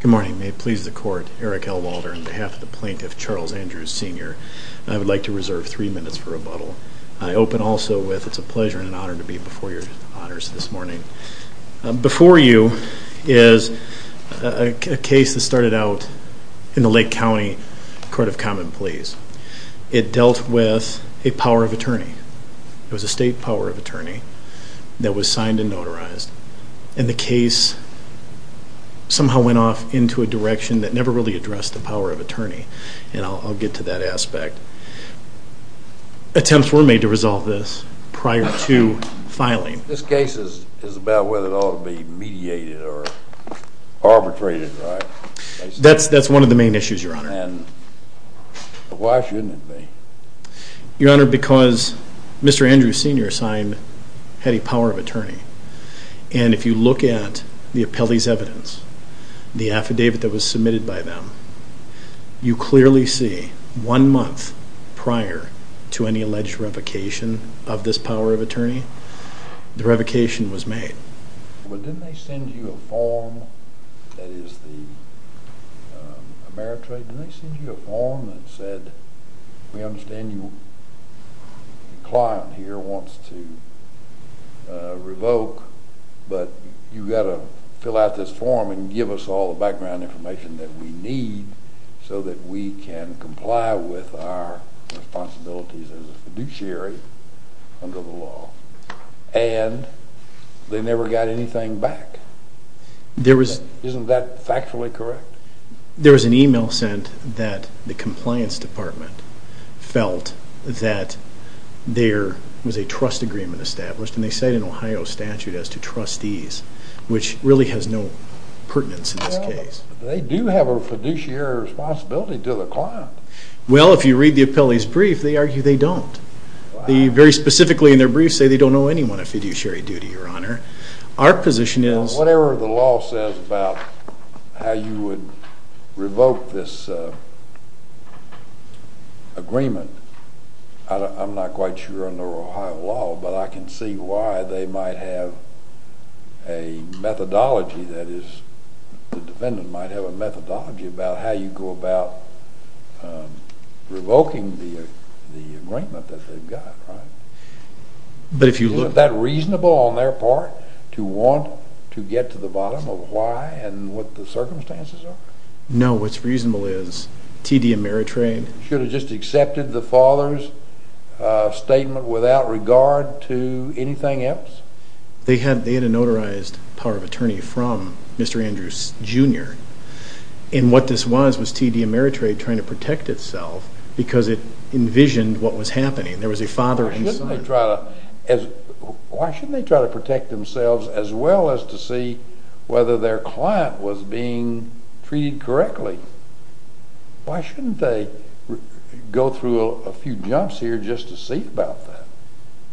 Good morning, may it please the Court, Eric L. Walter on behalf of the Plaintiff Charles Andrews Sr. I would like to reserve 3 minutes for rebuttal. I open also with it's a pleasure and honor to be before your honors this morning. Before you is a case that started out in the Lake County Court of Common Pleas. It dealt with a power of attorney. It was a state power of attorney that was signed and notarized and the case somehow went off into a direction that never really addressed the power of attorney and I'll get to that aspect. Attempts were made to resolve this prior to filing. This case is about whether it ought to be mediated or arbitrated, right? That's one of the main issues, your honor. Why shouldn't it be? Your honor, because Mr. Andrews Sr. had a power of attorney and if you look at the appellee's evidence, the affidavit that was submitted by them, you clearly see one month prior to any alleged revocation of this power of attorney, the revocation was made. But didn't they send you a form that is the Ameritrade, didn't they send you a form that said, we understand you, the client here wants to revoke, but you've got to fill out this form and give us all the background information that we need so that we can comply with our responsibilities as a fiduciary under the law. And they never got anything back. Isn't that factually correct? There was an email sent that the compliance department felt that there was a trust agreement in Ohio statute as to trustees, which really has no pertinence in this case. They do have a fiduciary responsibility to the client. Well, if you read the appellee's brief, they argue they don't. They very specifically in their brief say they don't know anyone of fiduciary duty, your honor. Our position is... Whatever the law says about how you would and see why they might have a methodology that is, the defendant might have a methodology about how you go about revoking the agreement that they've got, right? Isn't that reasonable on their part to want to get to the bottom of why and what the circumstances are? No, what's reasonable is TD Ameritrade... They had a notarized power of attorney from Mr. Andrews, Jr. And what this was, was TD Ameritrade trying to protect itself because it envisioned what was happening. There was a father and son. Why shouldn't they try to protect themselves as well as to see whether their client was being treated correctly? Why shouldn't they go through a few jumps here just to see about that?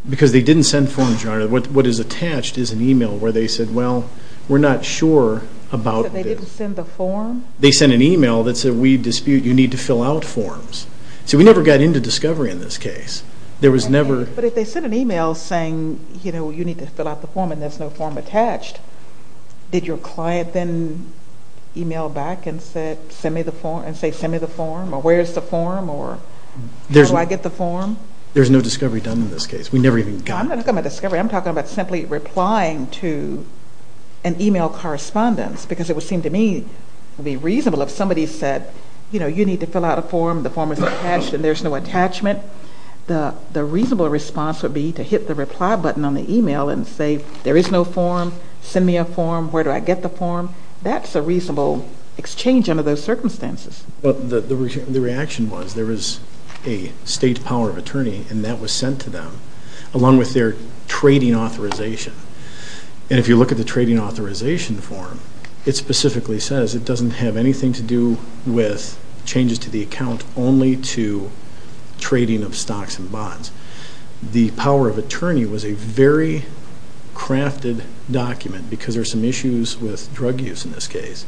Because they didn't send forms, your honor. What is attached is an email where they said, well, we're not sure about... So they didn't send the form? They sent an email that said, we dispute you need to fill out forms. So we never got into discovery in this case. There was never... But if they sent an email saying, you know, you need to fill out the form and there's no form attached, did your client then email back and say, send me the form? Or where's the form? Or how do I get the form? There's no discovery done in this case. We never even got... I'm not talking about discovery. I'm talking about simply replying to an email correspondence because it would seem to me it would be reasonable if somebody said, you know, you need to fill out a form, the form is attached and there's no attachment. The reasonable response would be to hit the reply button on the email and say, there is no form, send me a form, where do I get the form? That's a reasonable exchange under those circumstances. But the reaction was there was a state power of attorney and that was sent to them along with their trading authorization. And if you look at the trading authorization form, it specifically says it doesn't have anything to do with changes to the account only to trading of stocks and bonds. The power of attorney was a very crafted document because there are some issues with drug use in this case.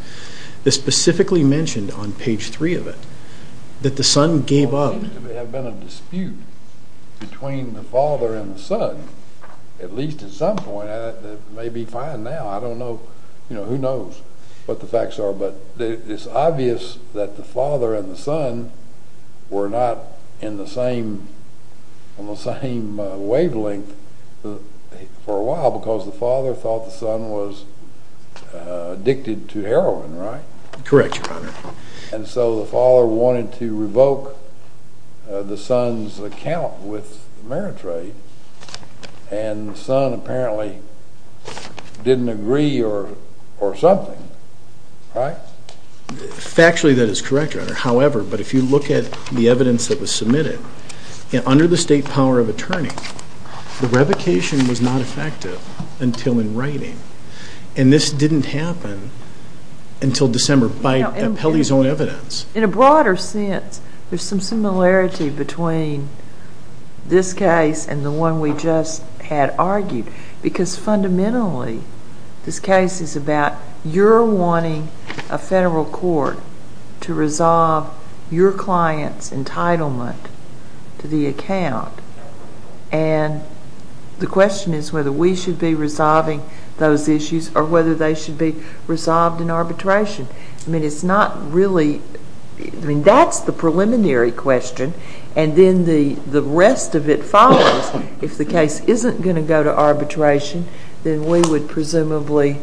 It specifically mentioned on page 3 of it that the son gave up... There may have been a dispute between the father and the son at least at some point that may be fine now. I don't know, you know, who knows what the facts are. But it's obvious that the father and the son were not in the same, on the same wavelength for a while because the father thought the son was addicted to heroin, right? Correct, your honor. And so the father wanted to revoke the son's account with Meritrade and the son apparently didn't agree or something, right? Factually that is correct, your honor. However, but if you look at the evidence that was submitted, under the state power of attorney, the revocation was not effective until in writing. And this didn't happen until December by Pelley's own evidence. In a broader sense, there's some similarity between this case and the one we just had argued because fundamentally this case is about your wanting a federal court to resolve your client's entitlement to the account. And the question is whether we should be resolving those issues or whether they should be resolved in arbitration. I mean, it's not really... I mean, that's the preliminary question and then the rest of it follows. If the case isn't going to go to arbitration, then we would presumably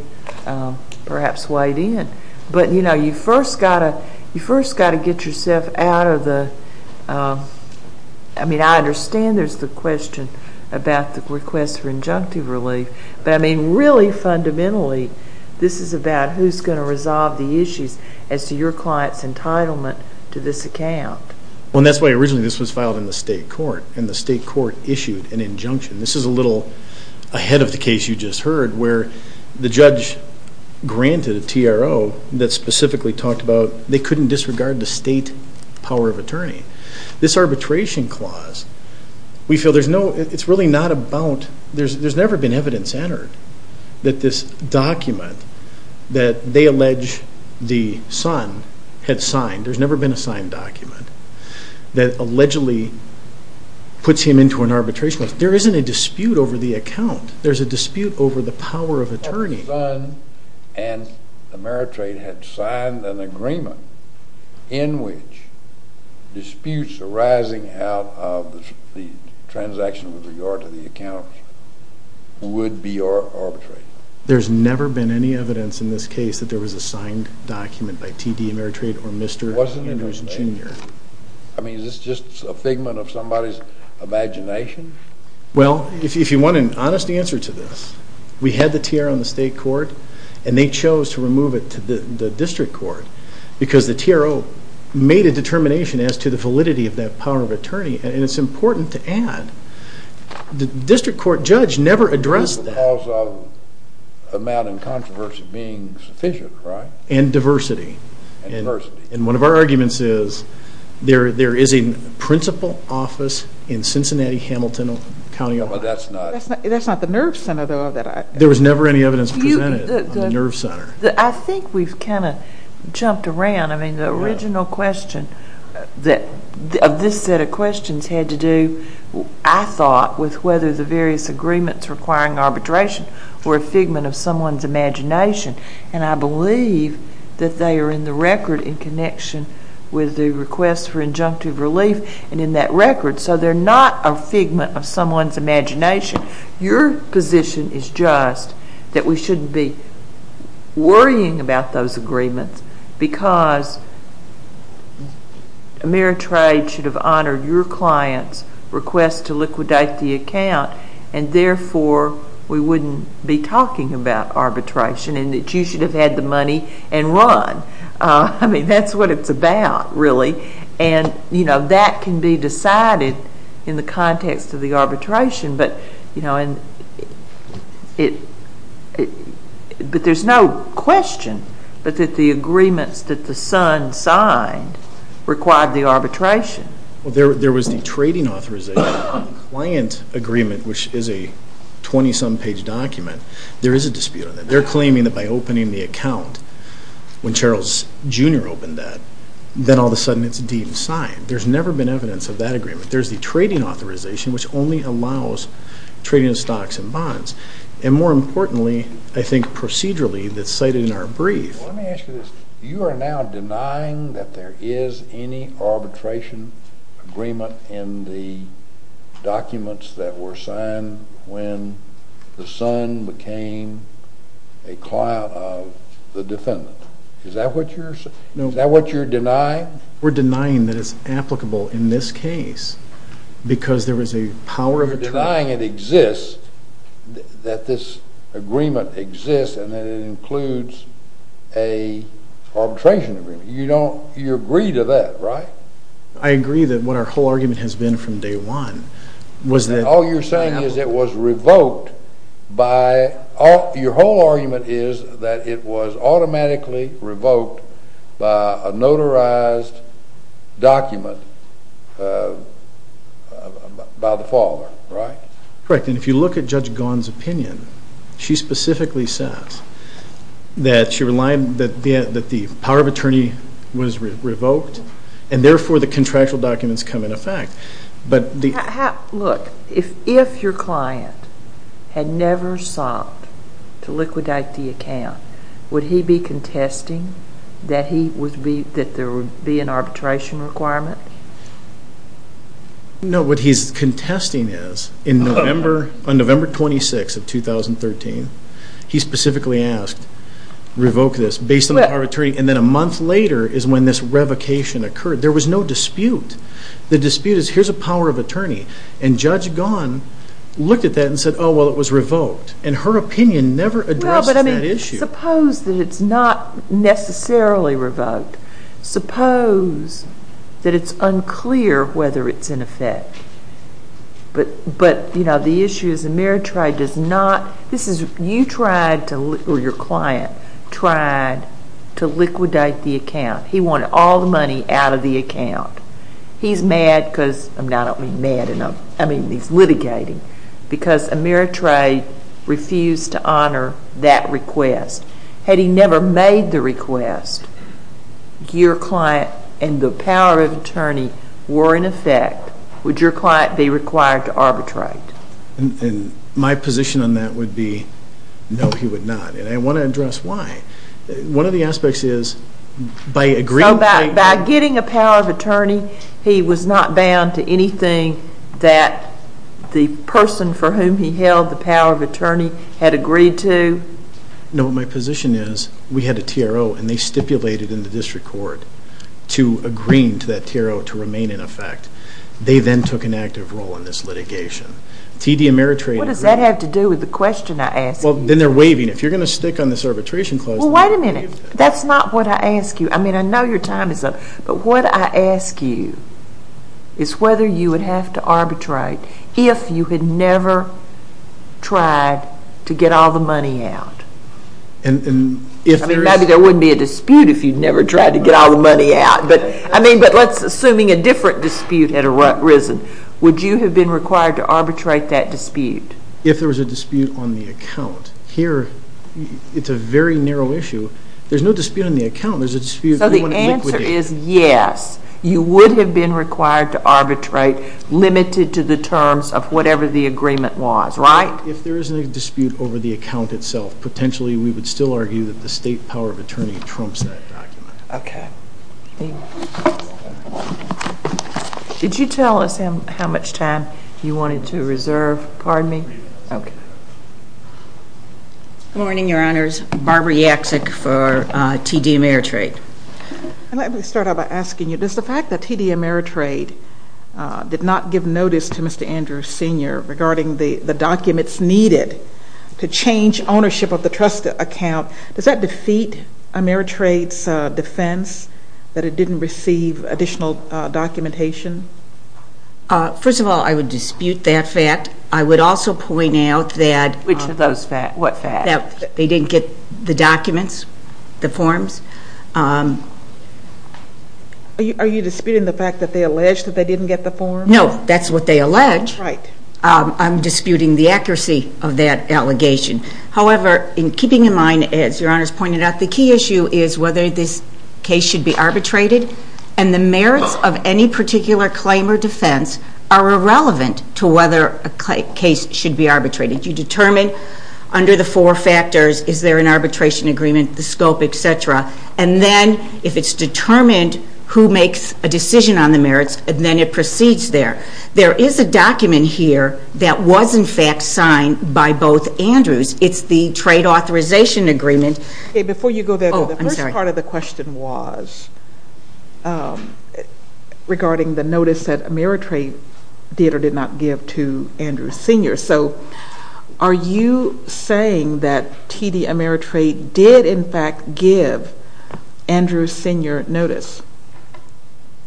perhaps wade in. But, you know, you first got to get yourself out of the... I mean, I understand there's the question about the request for injunctive relief, but I mean really fundamentally this is about who's going to resolve the issues as to your client's entitlement to this account. Well, that's why originally this was filed in the state court and the state court issued an injunction. This is a little ahead of the case you just heard where the judge granted a TRO that specifically talked about they couldn't disregard the state power of attorney. This arbitration clause, we feel there's no... it's really not about... there's never been evidence entered that this document that they allege the son had signed, there's never been a signed document, that allegedly puts him into an arbitration. There isn't a dispute over the account. There's a dispute over the power of attorney. The son and Ameritrade had signed an agreement in which disputes arising out of the transaction with regard to the account would be arbitrated. There's never been any evidence in this case that there was a signed document by TD Ameritrade or Mr. Andrews Jr. I mean, is this just a figment of somebody's imagination? Well, if you want an honest answer to this, we had the TRO in the state court and they chose to remove it to the district court because the TRO made a determination as to the validity of that power of attorney and it's important to add, the district court judge never addressed that. Because of amount and controversy being sufficient, right? And diversity. And diversity. And one of our arguments is, there is a principal office in Cincinnati, Hamilton County. That's not the Nerve Center though. There was never any evidence presented at the Nerve Center. I think we've kind of jumped around. I mean, the original question of this set of questions had to do, I thought, with whether the various agreements requiring arbitration were a figment of someone's imagination and I believe that they are in the record in connection with the request for injunctive relief and in that record. So, they're not a figment of someone's imagination. Your position is just that we shouldn't be worrying about those agreements because Ameritrade should have honored your client's request to liquidate the account and therefore we wouldn't be talking about arbitration and that you should have had the money and run. I mean, that's what it's about, really. And, you know, that can be decided in the context of the arbitration. But, you know, there's no question that the agreements that the Sun signed required the arbitration. Well, there was the trading authorization on the client agreement, which is a 20-some page document. There is a dispute on that. They're claiming that by opening the account, when Charles Jr. opened that, then all of a sudden it's deemed signed. There's never been evidence of that agreement. There's the trading authorization, which only allows trading of stocks and bonds. And more importantly, I think procedurally, that's cited in our brief. Let me ask you this. You are now denying that there is any arbitration agreement in the documents that were signed when the Sun became a client of the defendant. Is that what you're denying? We're denying that it's applicable in this case because there was a power of attorney. You're denying it exists, that this agreement exists, and that it includes an arbitration agreement. You agree to that, right? I agree that what our whole argument has been from day one was that... Correct, and if you look at Judge Gaughan's opinion, she specifically says that the power of attorney was revoked, and therefore the contractual documents come into effect. Look, if your client had never sought to liquidate the account, would he be contesting that there would be an arbitration requirement? No, what he's contesting is, on November 26th of 2013, he specifically asked, revoke this, based on the power of attorney, and then a month later is when this revocation occurred. There was no dispute. The dispute is, here's a power of attorney, and Judge Gaughan looked at that and said, oh, well, it was revoked, and her opinion never addressed that issue. Suppose that it's not necessarily revoked. Suppose that it's unclear whether it's in effect, but the issue is Ameritrade does not... You tried to, or your client tried to liquidate the account. He wanted all the money out of the account. He's mad because, I don't mean mad, I mean he's litigating, because Ameritrade refused to honor that request. Had he never made the request, your client and the power of attorney were in effect, would your client be required to arbitrate? My position on that would be, no, he would not, and I want to address why. One of the aspects is, by agreeing... He was not bound to anything that the person for whom he held the power of attorney had agreed to? No. My position is we had a TRO, and they stipulated in the district court to agreeing to that TRO to remain in effect. They then took an active role in this litigation. TD Ameritrade agreed... What does that have to do with the question I asked you? Well, then they're waiving. If you're going to stick on this arbitration clause... Well, wait a minute. That's not what I asked you. I mean, I know your time is up, but what I ask you is whether you would have to arbitrate if you had never tried to get all the money out. And if there is... I mean, maybe there wouldn't be a dispute if you'd never tried to get all the money out, but, I mean, but let's... Assuming a different dispute had arisen, would you have been required to arbitrate that dispute? If there was a dispute on the account, here, it's a very narrow issue. There's no dispute on the account. There's a dispute... So the answer is yes. You would have been required to arbitrate limited to the terms of whatever the agreement was, right? If there is a dispute over the account itself, potentially we would still argue that the state power of attorney trumps that document. Okay. Did you tell us how much time you wanted to reserve? Pardon me? Okay. Good morning, Your Honors. Barbara Yaksik for TD Ameritrade. Let me start out by asking you, does the fact that TD Ameritrade did not give notice to Mr. Andrews Sr. regarding the documents needed to change ownership of the trust account, does that defeat Ameritrade's defense that it didn't receive additional documentation? First of all, I would dispute that fact. I would also point out that... Which of those facts? What facts? That they didn't get the documents, the forms. Are you disputing the fact that they alleged that they didn't get the forms? No. That's what they alleged. Right. I'm disputing the accuracy of that allegation. However, in keeping in mind, as Your Honors pointed out, the key issue is whether this case should be arbitrated, and the merits of any particular claim or defense are irrelevant to whether a case should be arbitrated. You determine under the four factors, is there an arbitration agreement, the scope, et cetera, and then if it's determined who makes a decision on the merits, then it proceeds there. There is a document here that was, in fact, signed by both Andrews. It's the trade authorization agreement. Before you go there, the first part of the question was regarding the notice that Ameritrade did or did not give to Andrews Sr. So are you saying that T.D. Ameritrade did, in fact, give Andrews Sr. notice?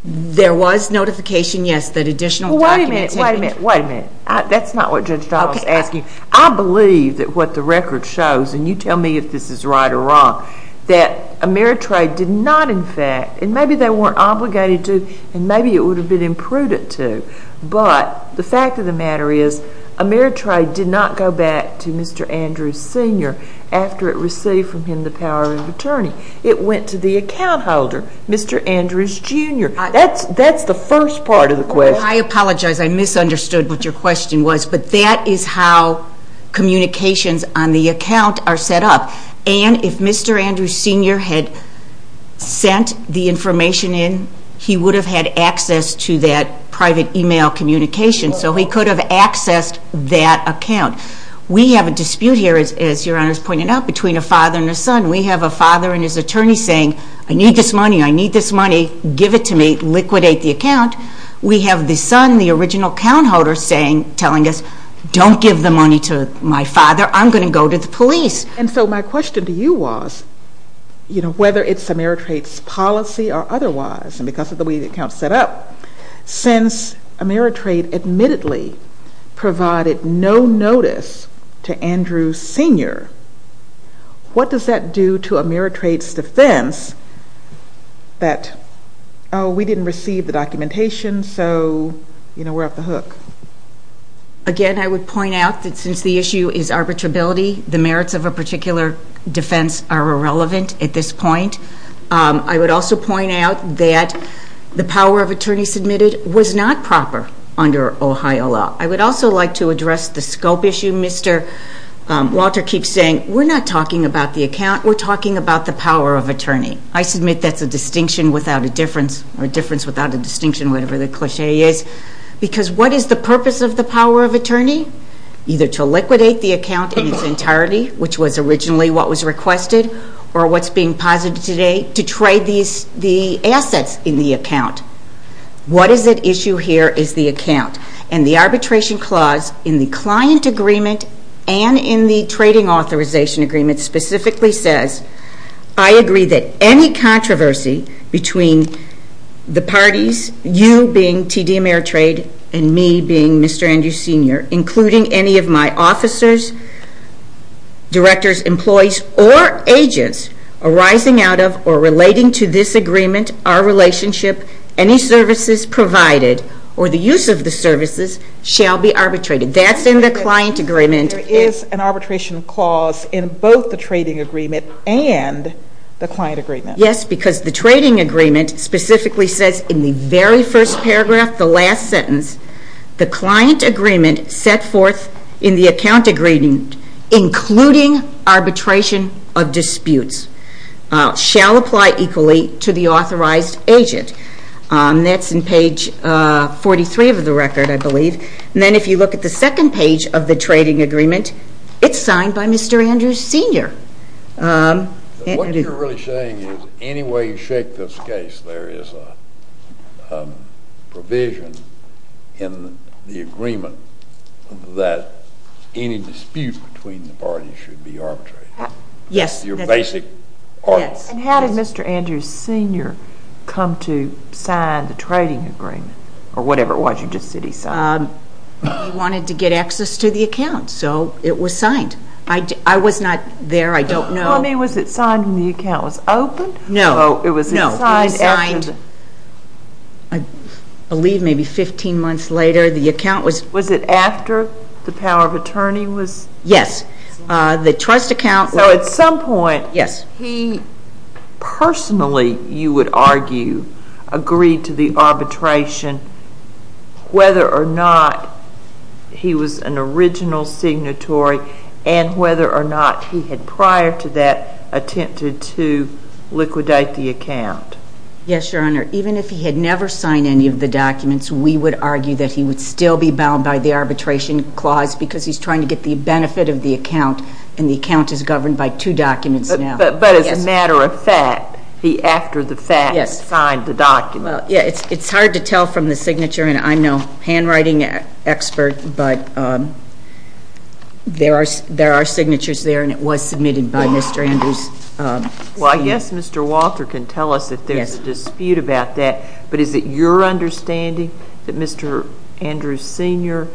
There was notification, yes, that additional documentation... Wait a minute, wait a minute, wait a minute. That's not what Judge Donald is asking. I believe that what the record shows, and you tell me if this is right or wrong, that Ameritrade did not, in fact, and maybe they weren't obligated to and maybe it would have been imprudent to, but the fact of the matter is Ameritrade did not go back to Mr. Andrews Sr. after it received from him the power of attorney. It went to the account holder, Mr. Andrews Jr. That's the first part of the question. I apologize. I misunderstood what your question was, but that is how communications on the account are set up, and if Mr. Andrews Sr. had sent the information in, he would have had access to that private e-mail communication, so he could have accessed that account. We have a dispute here, as Your Honor has pointed out, between a father and a son. We have a father and his attorney saying, I need this money, I need this money, give it to me, liquidate the account. We have the son, the original account holder, telling us, don't give the money to my father. I'm going to go to the police. And so my question to you was, you know, whether it's Ameritrade's policy or otherwise, and because of the way the account is set up, since Ameritrade admittedly provided no notice to Andrews Sr., what does that do to Ameritrade's defense that, oh, we didn't receive the documentation, so, you know, we're off the hook? Again, I would point out that since the issue is arbitrability, the merits of a particular defense are irrelevant at this point. I would also point out that the power of attorney submitted was not proper under Ohio law. I would also like to address the scope issue. Mr. Walter keeps saying, we're not talking about the account, we're talking about the power of attorney. I submit that's a distinction without a difference, or a difference without a distinction, whatever the cliche is, because what is the purpose of the power of attorney? Either to liquidate the account in its entirety, which was originally what was requested, or what's being posited today, to trade the assets in the account. What is at issue here is the account. And the arbitration clause in the client agreement and in the trading authorization agreement specifically says, I agree that any controversy between the parties, you being TD Ameritrade and me being Mr. Andrews Sr., including any of my officers, directors, employees, or agents arising out of or relating to this agreement, our relationship, any services provided, or the use of the services, shall be arbitrated. That's in the client agreement. There is an arbitration clause in both the trading agreement and the client agreement. Yes, because the trading agreement specifically says in the very first paragraph, the last sentence, the client agreement set forth in the account agreement, including arbitration of disputes, shall apply equally to the authorized agent. That's in page 43 of the record, I believe. And then if you look at the second page of the trading agreement, it's signed by Mr. Andrews Sr. What you're really saying is any way you shake this case, there is a provision in the agreement that any dispute between the parties should be arbitrated. Yes. And how did Mr. Andrews Sr. come to sign the trading agreement, or whatever it was you just said he signed? He wanted to get access to the account, so it was signed. I was not there. I don't know. I mean, was it signed when the account was opened? No, it was signed, I believe, maybe 15 months later. Was it after the power of attorney was signed? Yes. So at some point, he personally, you would argue, agreed to the arbitration whether or not he was an original signatory and whether or not he had prior to that attempted to liquidate the account. Yes, Your Honor. Even if he had never signed any of the documents, we would argue that he would still be bound by the arbitration clause because he's trying to get the benefit of the account, and the account is governed by two documents now. But as a matter of fact, the after the fact signed the document. Yes. It's hard to tell from the signature, and I'm no handwriting expert, but there are signatures there, and it was submitted by Mr. Andrews. Well, I guess Mr. Walter can tell us if there's a dispute about that, but is it your understanding that Mr. Andrews Sr.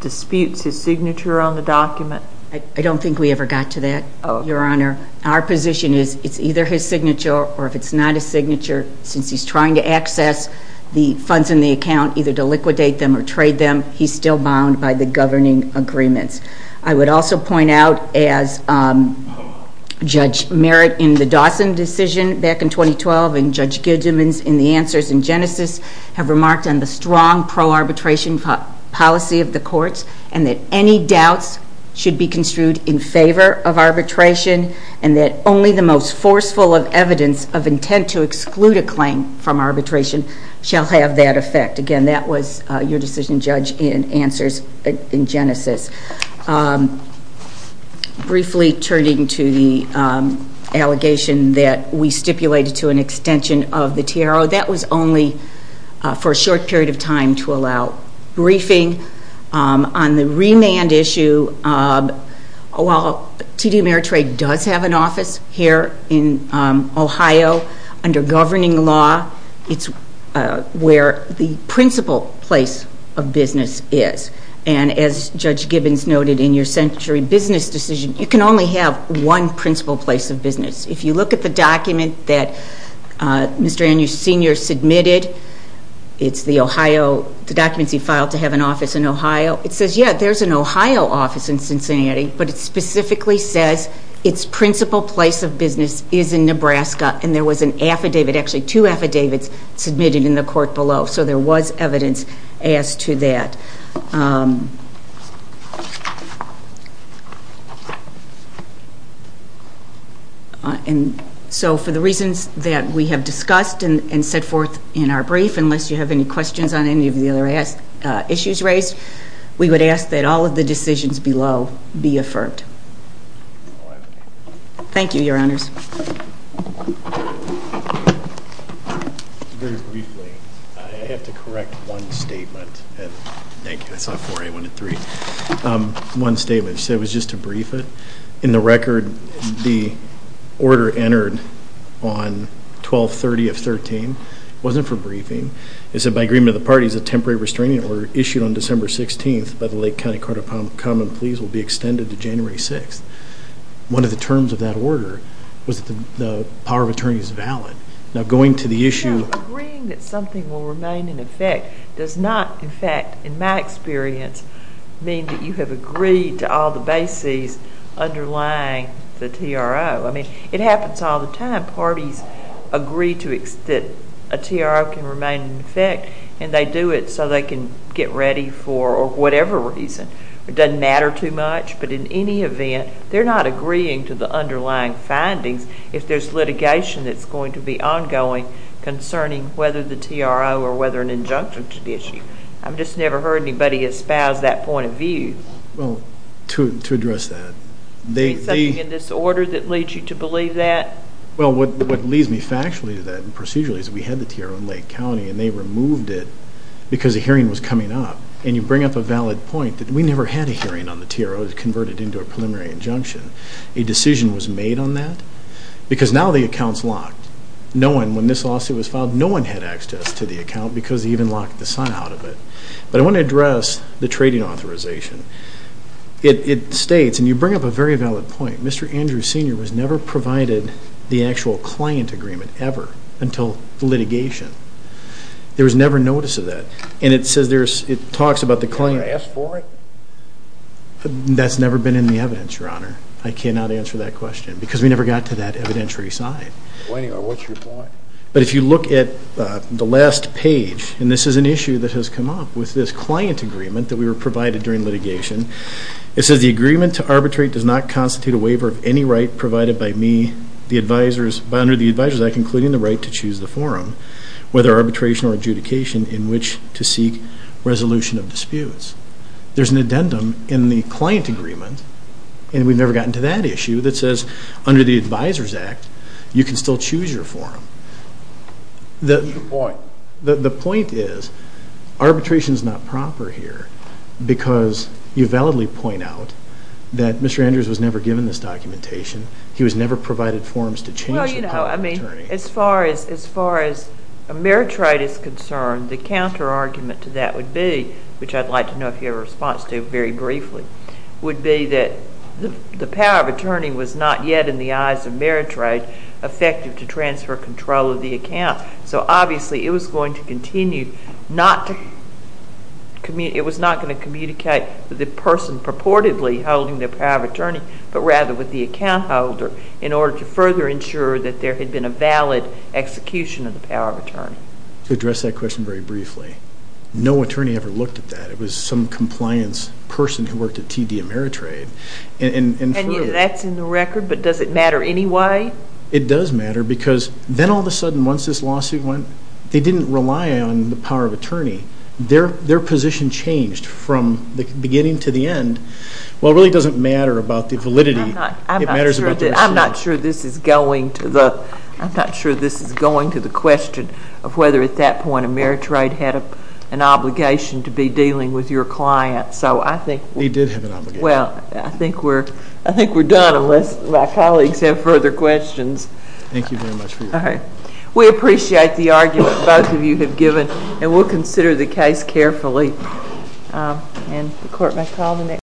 disputes his signature on the document? I don't think we ever got to that, Your Honor. Our position is it's either his signature or if it's not his signature, since he's trying to access the funds in the account, either to liquidate them or trade them, he's still bound by the governing agreements. I would also point out, as Judge Merritt in the Dawson decision back in 2012 and Judge Goodman in the answers in Genesis have remarked on the strong pro-arbitration policy of the courts and that any doubts should be construed in favor of arbitration and that only the most forceful of evidence of intent to exclude a claim from arbitration shall have that effect. Again, that was your decision, Judge, in answers in Genesis. Briefly turning to the allegation that we stipulated to an extension of the TRO, that was only for a short period of time to allow briefing. On the remand issue, while TD Ameritrade does have an office here in Ohio under governing law, it's where the principal place of business is. And as Judge Gibbons noted in your Century Business decision, you can only have one principal place of business. If you look at the document that Mr. Andrews Sr. submitted, it's the Ohio, the documents he filed to have an office in Ohio, it says, yeah, there's an Ohio office in Cincinnati, but it specifically says its principal place of business is in Nebraska and there was an affidavit, actually two affidavits, submitted in the court below. So there was evidence as to that. So for the reasons that we have discussed and set forth in our brief, unless you have any questions on any of the other issues raised, we would ask that all of the decisions below be affirmed. Thank you, Your Honors. Very briefly, I have to correct one statement. Thank you, I saw four, I wanted three. One statement, she said it was just to brief it. In the record, the order entered on 12-30-13 wasn't for briefing. It said by agreement of the parties, a temporary restraining order issued on December 16th by the Lake County Court of Common Pleas will be extended to January 6th. One of the terms of that order was that the power of attorney is valid. Now going to the issue of Agreeing that something will remain in effect does not, in fact, in my experience, mean that you have agreed to all the bases underlying the TRO. I mean, it happens all the time. Parties agree that a TRO can remain in effect and they do it so they can get ready for whatever reason. It doesn't matter too much, but in any event, they're not agreeing to the underlying findings if there's litigation that's going to be ongoing concerning whether the TRO or whether an injunction should be issued. I've just never heard anybody espouse that point of view. Well, to address that, they Is there something in this order that leads you to believe that? Well, what leads me factually to that and procedurally is we had the TRO in Lake County and they removed it because a hearing was coming up and you bring up a valid point that we never had a hearing on the TRO that was converted into a preliminary injunction. A decision was made on that because now the account's locked. No one, when this lawsuit was filed, no one had access to the account because they even locked the son out of it. But I want to address the trading authorization. It states, and you bring up a very valid point, Mr. Andrews Sr. was never provided the actual client agreement ever until litigation. There was never notice of that. And it says there's, it talks about the claim. Can I ask for it? That's never been in the evidence, Your Honor. I cannot answer that question because we never got to that evidentiary side. Well, anyway, what's your point? But if you look at the last page, and this is an issue that has come up with this client agreement that we were provided during litigation, it says the agreement to arbitrate does not constitute a waiver of any right provided by me, the advisors, under the Advisors Act, including the right to choose the forum, whether arbitration or adjudication, in which to seek resolution of disputes. There's an addendum in the client agreement, and we've never gotten to that issue, that says under the Advisors Act you can still choose your forum. What's your point? The point is arbitration is not proper here because you validly point out that Mr. Andrews was never given this documentation. He was never provided forums to change the public attorney. No, I mean, as far as a merit rate is concerned, the counterargument to that would be, which I'd like to know if you have a response to very briefly, would be that the power of attorney was not yet, in the eyes of merit rate, effective to transfer control of the account. So obviously it was going to continue not to communicate, it was not going to communicate with the person purportedly holding the power of attorney, but rather with the account holder in order to further ensure that there had been a valid execution of the power of attorney. To address that question very briefly, no attorney ever looked at that. It was some compliance person who worked at TD Ameritrade. And that's in the record, but does it matter anyway? It does matter because then all of a sudden, once this lawsuit went, they didn't rely on the power of attorney. Their position changed from the beginning to the end. Well, it really doesn't matter about the validity. I'm not sure this is going to the question of whether at that point Ameritrade had an obligation to be dealing with your client. They did have an obligation. Well, I think we're done unless my colleagues have further questions. Thank you very much for your time. We appreciate the argument both of you have given, and we'll consider the case carefully. Thank you.